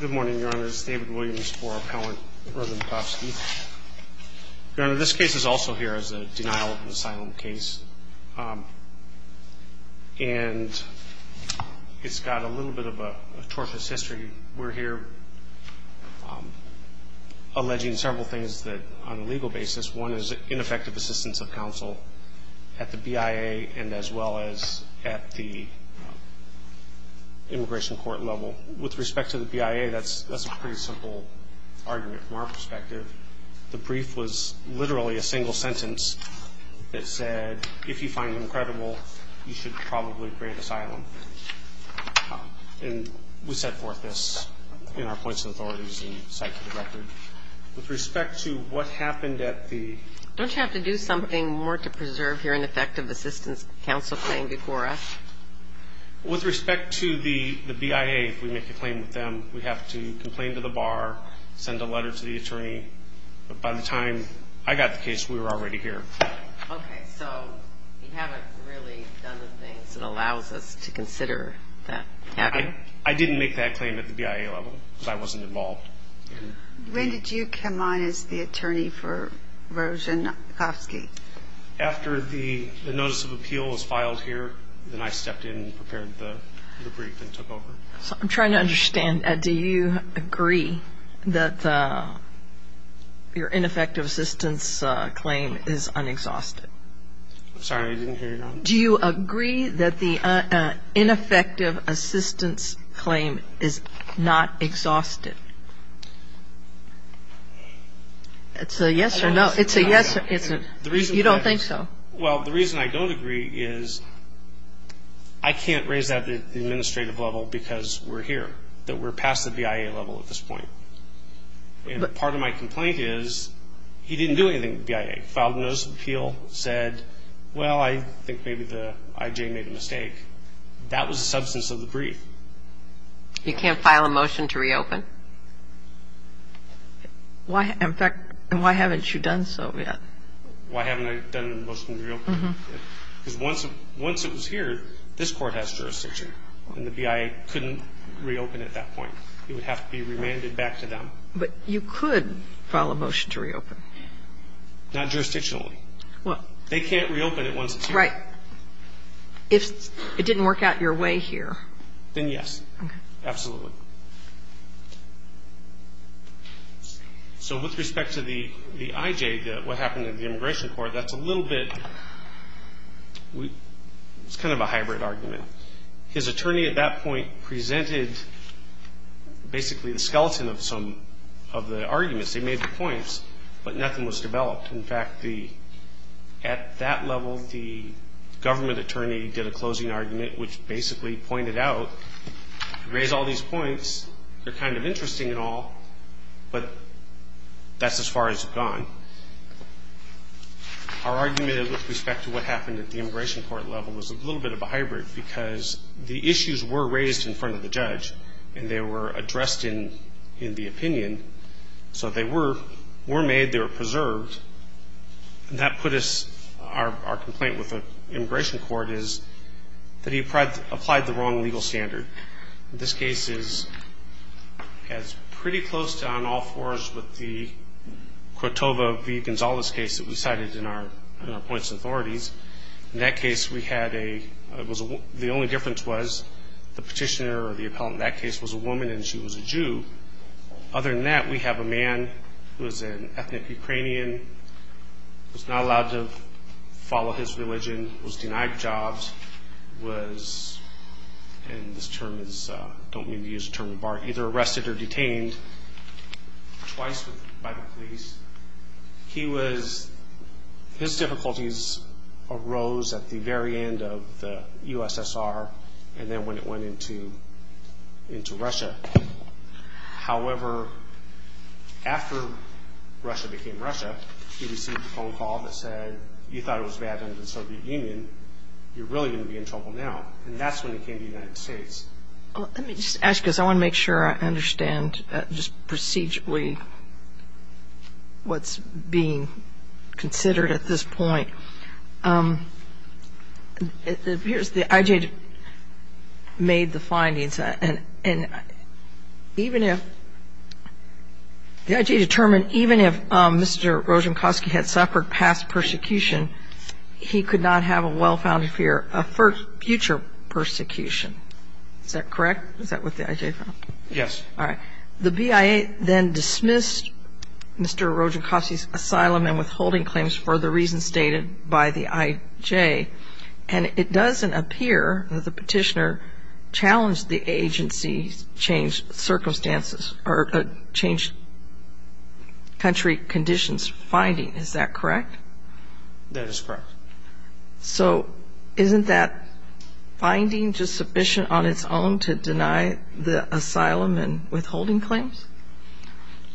Good morning, Your Honor. This is David Williams for Appellant Rojankovski. Your Honor, this case is also here as a denial of an asylum case, and it's got a little bit of a tortuous history. We're here alleging several things on a legal basis. One is ineffective assistance of counsel at the BIA and as well as at the immigration court level. With respect to the BIA, that's a pretty simple argument from our perspective. The brief was literally a single sentence that said, if you find them credible, you should probably grant asylum. And we set forth this in our points of authorities and cite to the record. With respect to what happened at the... Don't you have to do something more to preserve your ineffective assistance counsel claim, Decora? With respect to the BIA, if we make a claim with them, we have to complain to the bar, send a letter to the attorney. By the time I got the case, we were already here. Okay, so you haven't really done the things that allows us to consider that happening? I didn't make that claim at the BIA level because I wasn't involved. When did you come on as the attorney for Rojankovski? After the notice of appeal was filed here, then I stepped in and prepared the brief and took over. I'm trying to understand. Do you agree that your ineffective assistance claim is unexhausted? I'm sorry, I didn't hear you. Do you agree that the ineffective assistance claim is not exhausted? It's a yes or no. You don't think so? Well, the reason I don't agree is I can't raise that at the administrative level because we're here, that we're past the BIA level at this point. And part of my complaint is he didn't do anything at the BIA. He filed a notice of appeal, said, well, I think maybe the IJ made a mistake. That was the substance of the brief. You can't file a motion to reopen? In fact, why haven't you done so yet? Why haven't I done a motion to reopen? Because once it was here, this Court has jurisdiction, and the BIA couldn't reopen at that point. It would have to be remanded back to them. But you could file a motion to reopen. Not jurisdictionally. They can't reopen it once it's here. Right. If it didn't work out your way here. Then yes. Okay. Absolutely. So with respect to the IJ, what happened in the Immigration Court, that's a little bit, it's kind of a hybrid argument. His attorney at that point presented basically the skeleton of some of the arguments. They made the points, but nothing was developed. In fact, at that level, the government attorney did a closing argument, which basically pointed out, raise all these points, they're kind of interesting and all, but that's as far as you've gone. Our argument with respect to what happened at the Immigration Court level was a little bit of a hybrid because the issues were raised in front of the judge, and they were addressed in the opinion. So they were made. They were preserved. And that put us, our complaint with the Immigration Court is that he applied the wrong legal standard. This case is pretty close to on all fours with the Cotova v. Gonzales case that we cited in our points and authorities. In that case, we had a, the only difference was the petitioner or the appellant in that case was a woman and she was a Jew. Other than that, we have a man who is an ethnic Ukrainian, was not allowed to follow his religion, was denied jobs, was, and this term is, I don't mean to use the term of art, either arrested or detained twice by the police. He was, his difficulties arose at the very end of the USSR and then when it went into Russia. However, after Russia became Russia, he received a phone call that said, you thought it was bad under the Soviet Union, you're really going to be in trouble now. And that's when it came to the United States. Let me just ask you this. I want to make sure I understand just procedurally what's being considered at this point. It appears the I.G. made the findings and even if, the I.G. determined even if Mr. Rosenkoski had suffered past persecution, he could not have a well-founded fear of future persecution. Is that correct? Is that what the I.G. found? Yes. All right. The BIA then dismissed Mr. Rosenkoski's asylum and withholding claims for the reasons stated by the I.G. and it doesn't appear that the petitioner challenged the agency's changed circumstances or changed country conditions finding. Is that correct? That is correct. So isn't that finding just sufficient on its own to deny the asylum and withholding claims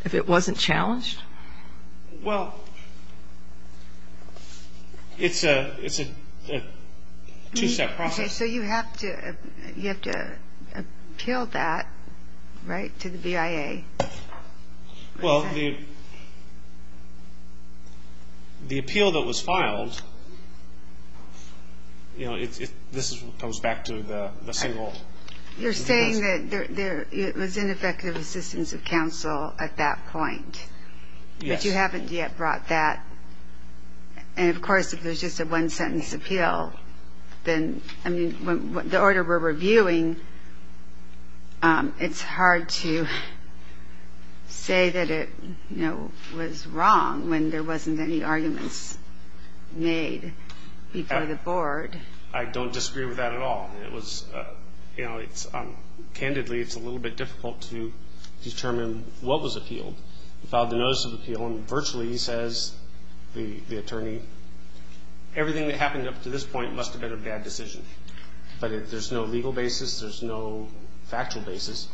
if it wasn't challenged? Well, it's a two-step process. So you have to appeal that, right, to the BIA. Well, the appeal that was filed, you know, this comes back to the single. You're saying that it was ineffective assistance of counsel at that point. Yes. But you haven't yet brought that. And, of course, if there's just a one-sentence appeal, then, I mean, the order we're reviewing, it's hard to say that it, you know, was wrong when there wasn't any arguments made before the board. I don't disagree with that at all. It was, you know, candidly, it's a little bit difficult to determine what was appealed. We filed the notice of appeal, and virtually, he says, the attorney, everything that happened up to this point must have been a bad decision. But there's no legal basis. There's no factual basis.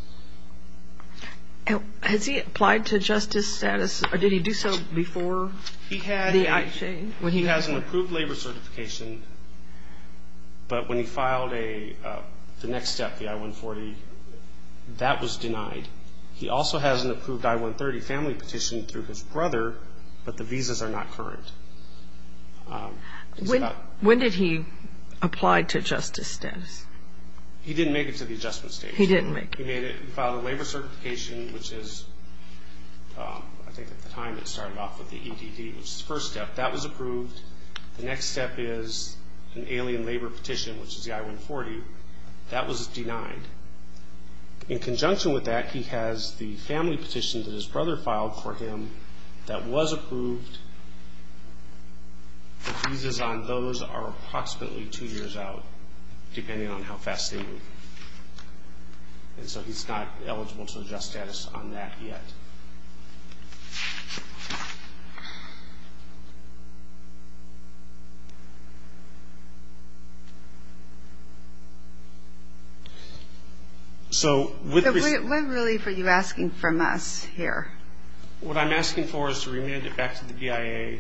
Has he applied to justice status, or did he do so before the I-Chain? He has an approved labor certification, but when he filed the next step, the I-140, that was denied. He also has an approved I-130 family petition through his brother, but the visas are not current. When did he apply to justice status? He didn't make it to the adjustment stage. He didn't make it. He made it and filed a labor certification, which is, I think at the time it started off with the EDD, which is the first step. That was approved. The next step is an alien labor petition, which is the I-140. That was denied. In conjunction with that, he has the family petition that his brother filed for him that was approved. The visas on those are approximately two years out, depending on how fast they move. And so he's not eligible to adjust status on that yet. What relief are you asking from us here? What I'm asking for is to remand it back to the BIA,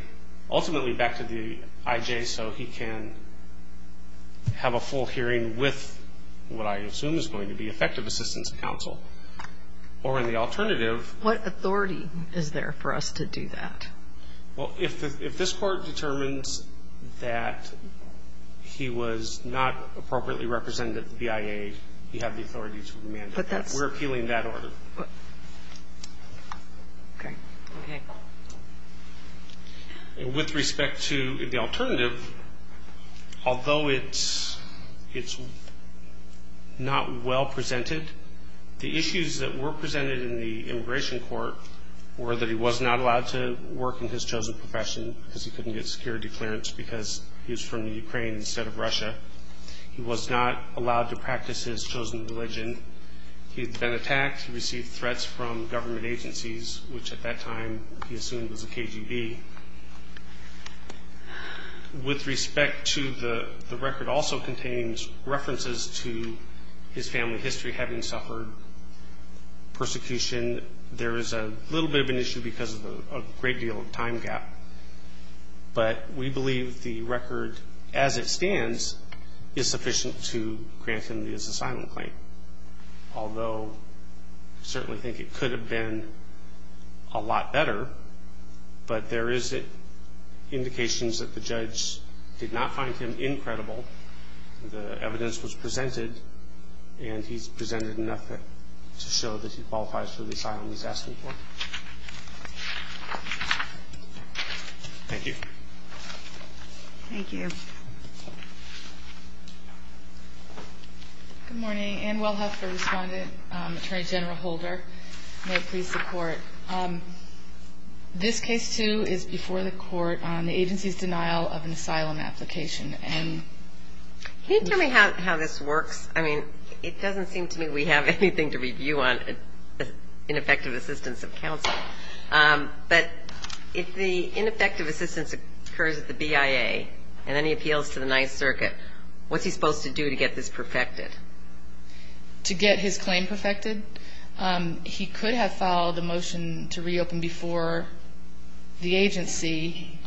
ultimately back to the IJ, so he can have a full hearing with what I assume is going to be effective assistance counsel. Or in the alternative. What authority is there for us to do that? Well, if this Court determines that he was not appropriately represented at the BIA, you have the authority to remand it. We're appealing that order. Okay. Okay. With respect to the alternative, although it's not well presented, the issues that were presented in the immigration court were that he was not allowed to work in his chosen profession because he couldn't get security clearance because he was from the Ukraine instead of Russia. He was not allowed to practice his chosen religion. He had been attacked. He received threats from government agencies, which at that time he assumed was the KGB. With respect to the record also containing references to his family history, having suffered persecution, there is a little bit of an issue because of a great deal of time gap. But we believe the record as it stands is sufficient to grant him his asylum claim. Although I certainly think it could have been a lot better, but there is indications that the judge did not find him incredible. The evidence was presented, and he's presented enough to show that he qualifies for the asylum he's asking for. Thank you. Thank you. Good morning. Ann Welhoff for Respondent, Attorney General Holder. May it please the Court. This case, too, is before the Court on the agency's denial of an asylum application. Can you tell me how this works? I mean, it doesn't seem to me we have anything to review on ineffective assistance of counsel. But if the ineffective assistance occurs at the BIA and then he appeals to the Ninth Circuit, what's he supposed to do to get this perfected? To get his claim perfected? He could have filed a motion to reopen before the agency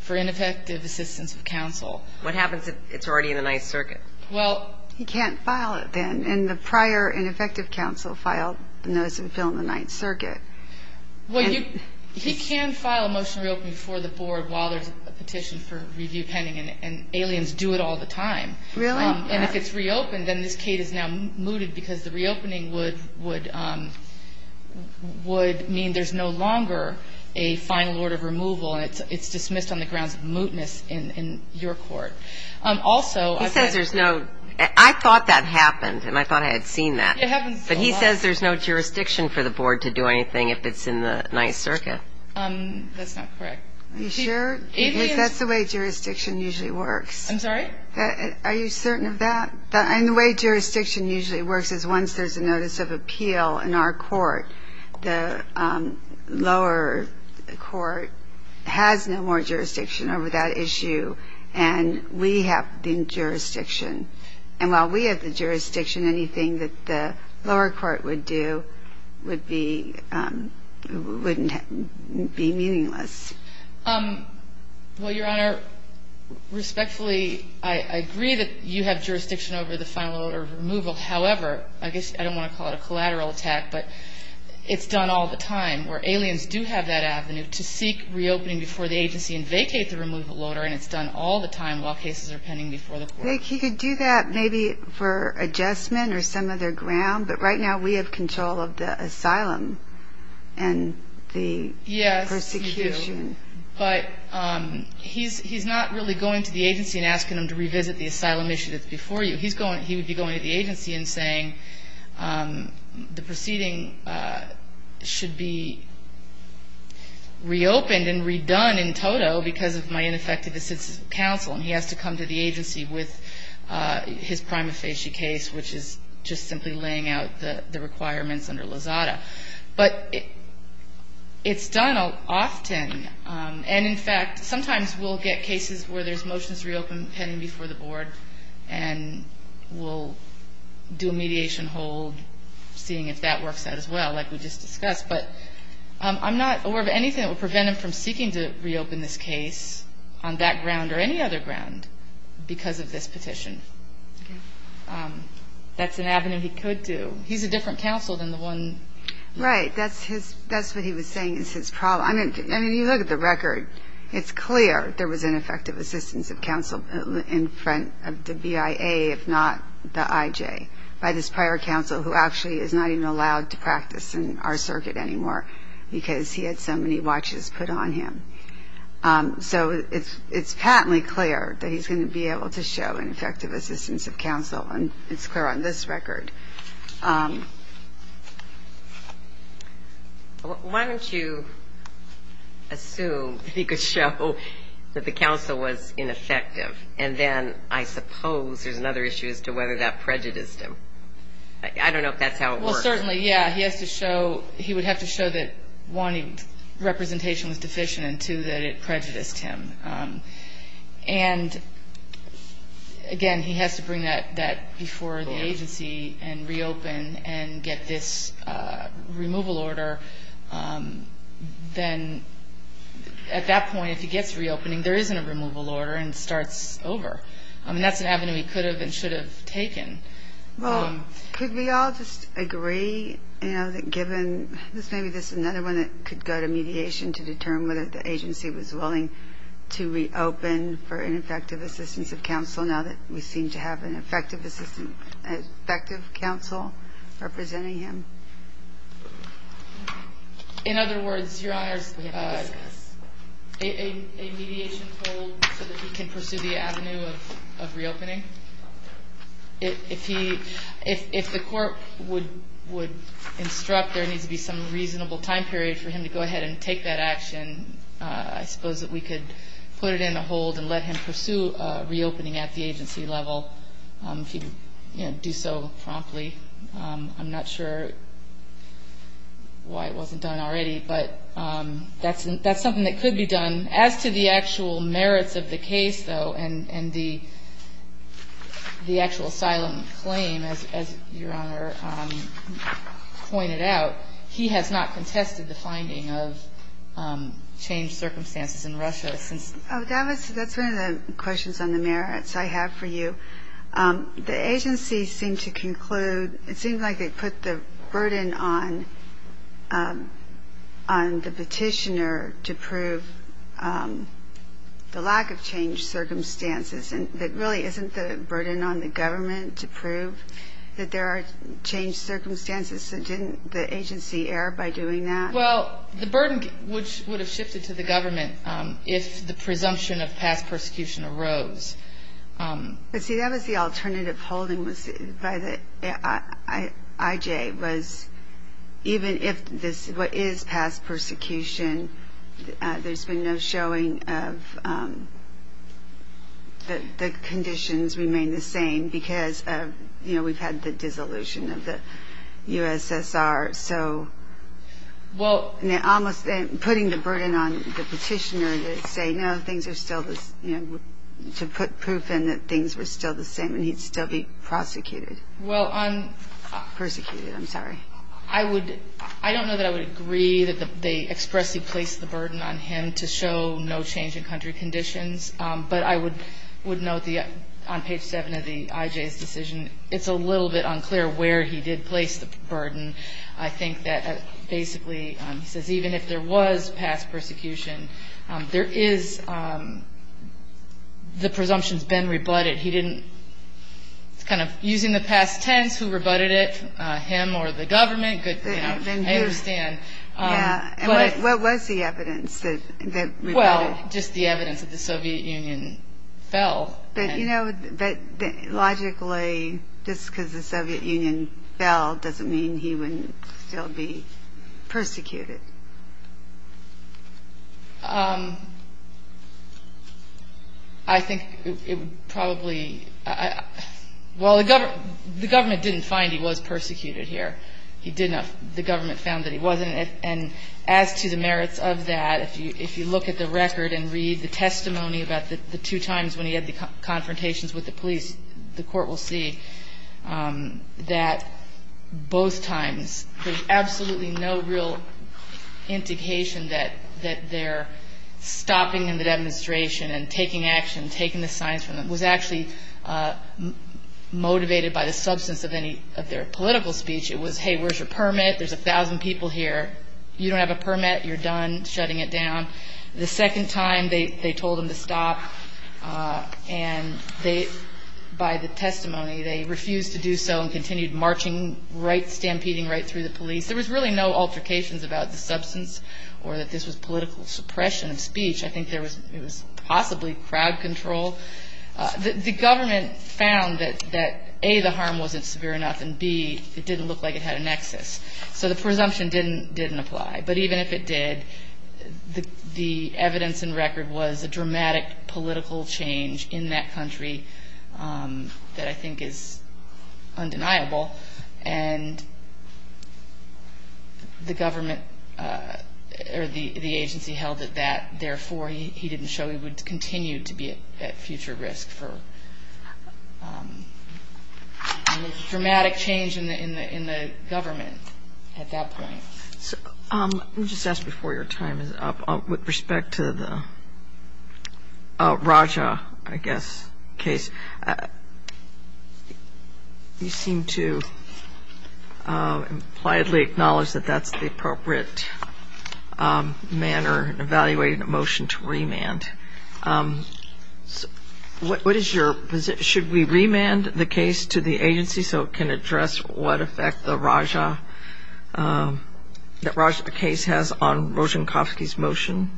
for ineffective assistance of counsel. What happens if it's already in the Ninth Circuit? Well, he can't file it then. And the prior ineffective counsel filed a notice of appeal in the Ninth Circuit. Well, he can file a motion to reopen before the Board while there's a petition for review pending, and aliens do it all the time. Really? And if it's reopened, then this case is now mooted because the reopening would mean there's no longer a final order of removal, and it's dismissed on the grounds of mootness in your Court. Also ---- He says there's no ---- I thought that happened, and I thought I had seen that. It happens a lot. But he says there's no jurisdiction for the Board to do anything if it's in the Ninth Circuit. That's not correct. Are you sure? Because that's the way jurisdiction usually works. I'm sorry? Are you certain of that? And the way jurisdiction usually works is once there's a notice of appeal in our Court, the lower Court has no more jurisdiction over that issue, and we have the jurisdiction. And while we have the jurisdiction, anything that the lower Court would do would be ---- wouldn't be meaningless. Well, Your Honor, respectfully, I agree that you have jurisdiction over the final order of removal. However, I guess I don't want to call it a collateral attack, but it's done all the time where aliens do have that avenue to seek reopening before the agency and vacate the removal order, and it's done all the time while cases are pending before the Court. I think he could do that maybe for adjustment or some other ground, but right now we have control of the asylum and the persecution. Yes, you do. But he's not really going to the agency and asking them to revisit the asylum issue that's before you. He would be going to the agency and saying the proceeding should be reopened and redone in total And he has to come to the agency with his prima facie case, which is just simply laying out the requirements under Lozada. But it's done often. And, in fact, sometimes we'll get cases where there's motions reopened pending before the Board and we'll do a mediation hold, seeing if that works out as well, like we just discussed. But I'm not aware of anything that would prevent him from seeking to reopen this case on that ground or any other ground because of this petition. That's an avenue he could do. He's a different counsel than the one. Right. That's what he was saying is his problem. I mean, you look at the record. It's clear there was ineffective assistance of counsel in front of the BIA, if not the IJ, by this prior counsel who actually is not even allowed to practice in our circuit anymore because he had so many watches put on him. So it's patently clear that he's going to be able to show ineffective assistance of counsel, and it's clear on this record. Why don't you assume that he could show that the counsel was ineffective, and then I suppose there's another issue as to whether that prejudiced him. I don't know if that's how it works. Well, certainly, yeah. He would have to show that, one, representation was deficient, and, two, that it prejudiced him. And, again, he has to bring that before the agency and reopen and get this removal order. Then at that point, if he gets reopening, there isn't a removal order and it starts over. I mean, that's an avenue he could have and should have taken. Well, could we all just agree, you know, that given this may be just another one that could go to mediation to determine whether the agency was willing to reopen for ineffective assistance of counsel now that we seem to have an effective counsel representing him? In other words, Your Honors, a mediation hold so that he can pursue the avenue of reopening? If the court would instruct there needs to be some reasonable time period for him to go ahead and take that action, I suppose that we could put it in a hold and let him pursue reopening at the agency level if he would do so promptly. I'm not sure why it wasn't done already, but that's something that could be done. As to the actual merits of the case, though, and the actual asylum claim, as Your Honor pointed out, he has not contested the finding of changed circumstances in Russia since. Oh, that's one of the questions on the merits I have for you. The agency seemed to conclude it seems like they put the burden on the petitioner to prove the lack of changed circumstances and that really isn't the burden on the government to prove that there are changed circumstances. Didn't the agency err by doing that? Well, the burden would have shifted to the government if the presumption of past persecution arose. But, see, that was the alternative holding by the IJ was even if this is past persecution, there's been no showing of the conditions remain the same because, you know, we've had the dissolution of the USSR. So putting the burden on the petitioner to put proof in that things were still the same and he'd still be prosecuted. Persecuted, I'm sorry. I don't know that I would agree that they expressly placed the burden on him to show no change in country conditions. But I would note on page 7 of the IJ's decision, it's a little bit unclear where he did place the burden. I think that basically he says even if there was past persecution, there is the presumption's been rebutted. It's kind of using the past tense, who rebutted it, him or the government. I understand. What was the evidence that rebutted it? Well, just the evidence that the Soviet Union fell. But, you know, logically just because the Soviet Union fell doesn't mean he wouldn't still be persecuted. I think it would probably – well, the government didn't find he was persecuted here. He didn't – the government found that he wasn't. And as to the merits of that, if you look at the record and read the testimony about the two times when he had the confrontations with the police, the court will see that both times there's absolutely no real indication that they're stopping the demonstration and taking action, taking the signs from them. It was actually motivated by the substance of their political speech. It was, hey, where's your permit? There's 1,000 people here. You don't have a permit. You're done shutting it down. The second time, they told him to stop. And they – by the testimony, they refused to do so and continued marching right – stampeding right through the police. There was really no altercations about the substance or that this was political suppression of speech. I think there was – it was possibly crowd control. The government found that, A, the harm wasn't severe enough, and, B, it didn't look like it had a nexus. So the presumption didn't apply. But even if it did, the evidence and record was a dramatic political change in that country that I think is undeniable. And the government – or the agency held it that, therefore, he didn't show he would continue to be at future risk for – dramatic change in the government at that point. Let me just ask before your time is up. With respect to the Raja, I guess, case, you seem to impliedly acknowledge that that's the appropriate manner in evaluating a motion to remand. What is your – should we remand the case to the agency so it can address what effect the Raja – that Raja case has on Rozhenkovsky's motion?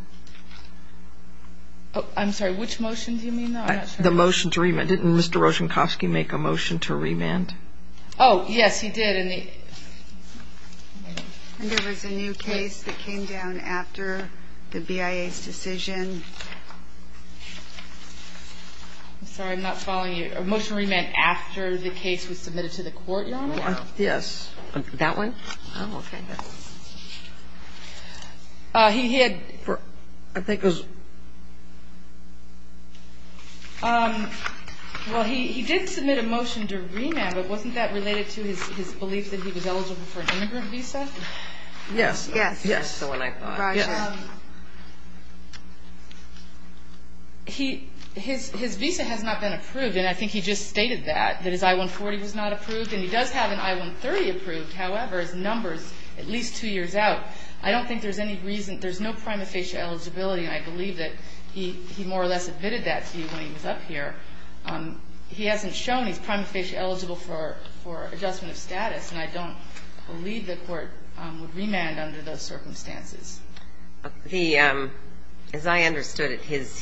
I'm sorry. Which motion do you mean, though? I'm not sure. The motion to remand. Didn't Mr. Rozhenkovsky make a motion to remand? Oh, yes, he did. And there was a new case that came down after the BIA's decision. I'm sorry. I'm not following you. A motion to remand after the case was submitted to the court, Your Honor? Yes. That one? Oh, okay. He had – I think it was – Well, he did submit a motion to remand. But wasn't that related to his belief that he was eligible for an immigrant visa? Yes. Yes. That's the one I thought. Raja. His visa has not been approved, and I think he just stated that, that his I-140 was not approved. And he does have an I-130 approved. However, his number is at least two years out. I don't think there's any reason – there's no prima facie eligibility, and I believe that he more or less admitted that to you when he was up here. He hasn't shown he's prima facie eligible for adjustment of status, and I don't believe the court would remand under those circumstances. The – as I understood it, his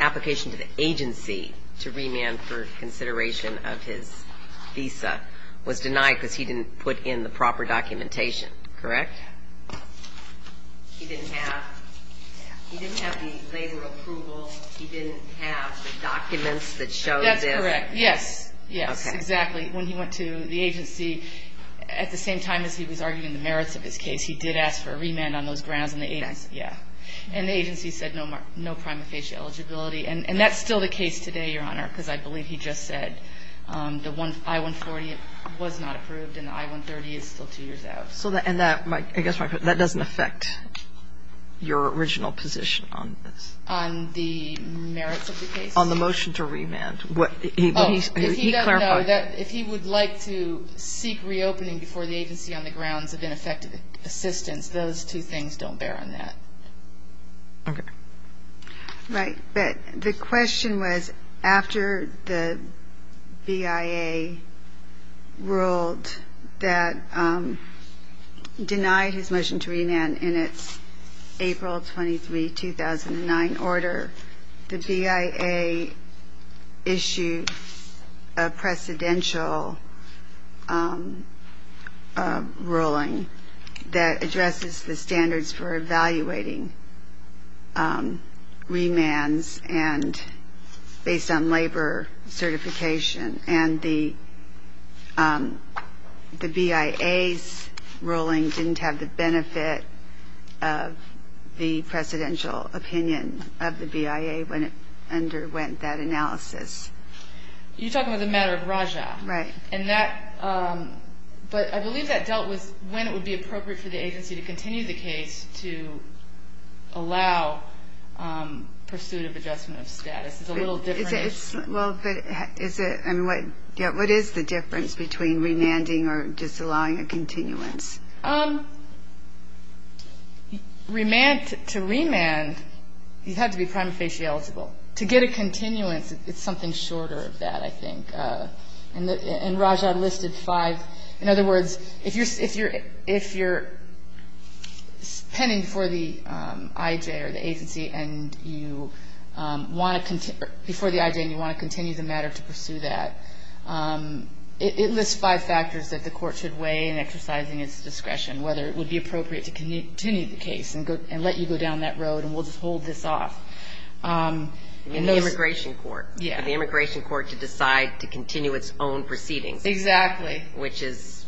application to the agency to remand for consideration of his visa was denied because he didn't put in the proper documentation, correct? He didn't have – he didn't have the labor approval. He didn't have the documents that showed this. That's correct. Yes. Yes. Okay. Exactly. When he went to the agency, at the same time as he was arguing the merits of his case, he did ask for a remand on those grounds, and the agency said no prima facie eligibility. And that's still the case today, Your Honor, because I believe he just said the I-140 was not approved and the I-130 is still two years out. And that doesn't affect your original position on this? On the merits of the case? On the motion to remand. He clarified. If he would like to seek reopening before the agency on the grounds of ineffective assistance, those two things don't bear on that. Okay. Right. But the question was, after the BIA ruled that – denied his motion to remand in its April 23, 2009 order, the BIA issued a precedential ruling that addresses the standards for evaluating remands based on labor certification. And the BIA's ruling didn't have the benefit of the precedential opinion of the BIA when it underwent that analysis. You're talking about the matter of Raja. Right. And that – but I believe that dealt with when it would be appropriate for the agency to continue the case to allow pursuit of adjustment of status. It's a little different. Well, but is it – I mean, what is the difference between remanding or just allowing a continuance? Remand – to remand, you have to be prima facie eligible. To get a continuance, it's something shorter of that, I think. And Raja listed five. In other words, if you're pending before the IJ or the agency and you want to – before the IJ and you want to continue the matter to pursue that, it lists five factors that the court should weigh in exercising its discretion, whether it would be appropriate to continue the case and let you go down that road and we'll just hold this off. In the immigration court. Yeah. For the immigration court to decide to continue its own proceedings. Exactly. Which is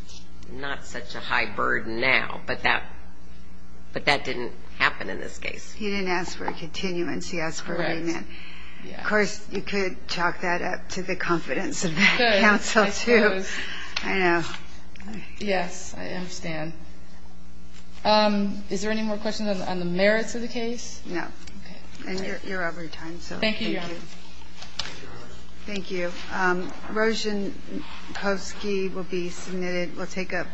not such a high burden now, but that didn't happen in this case. He didn't ask for a continuance. He asked for a remand. Correct. Of course, you could chalk that up to the confidence of that counsel, too. I suppose. I know. Yes, I understand. Is there any more questions on the merits of the case? No. And you're out of your time, so thank you. Thank you, Your Honor. Thank you. Roshenkovsky will be submitted – will take up.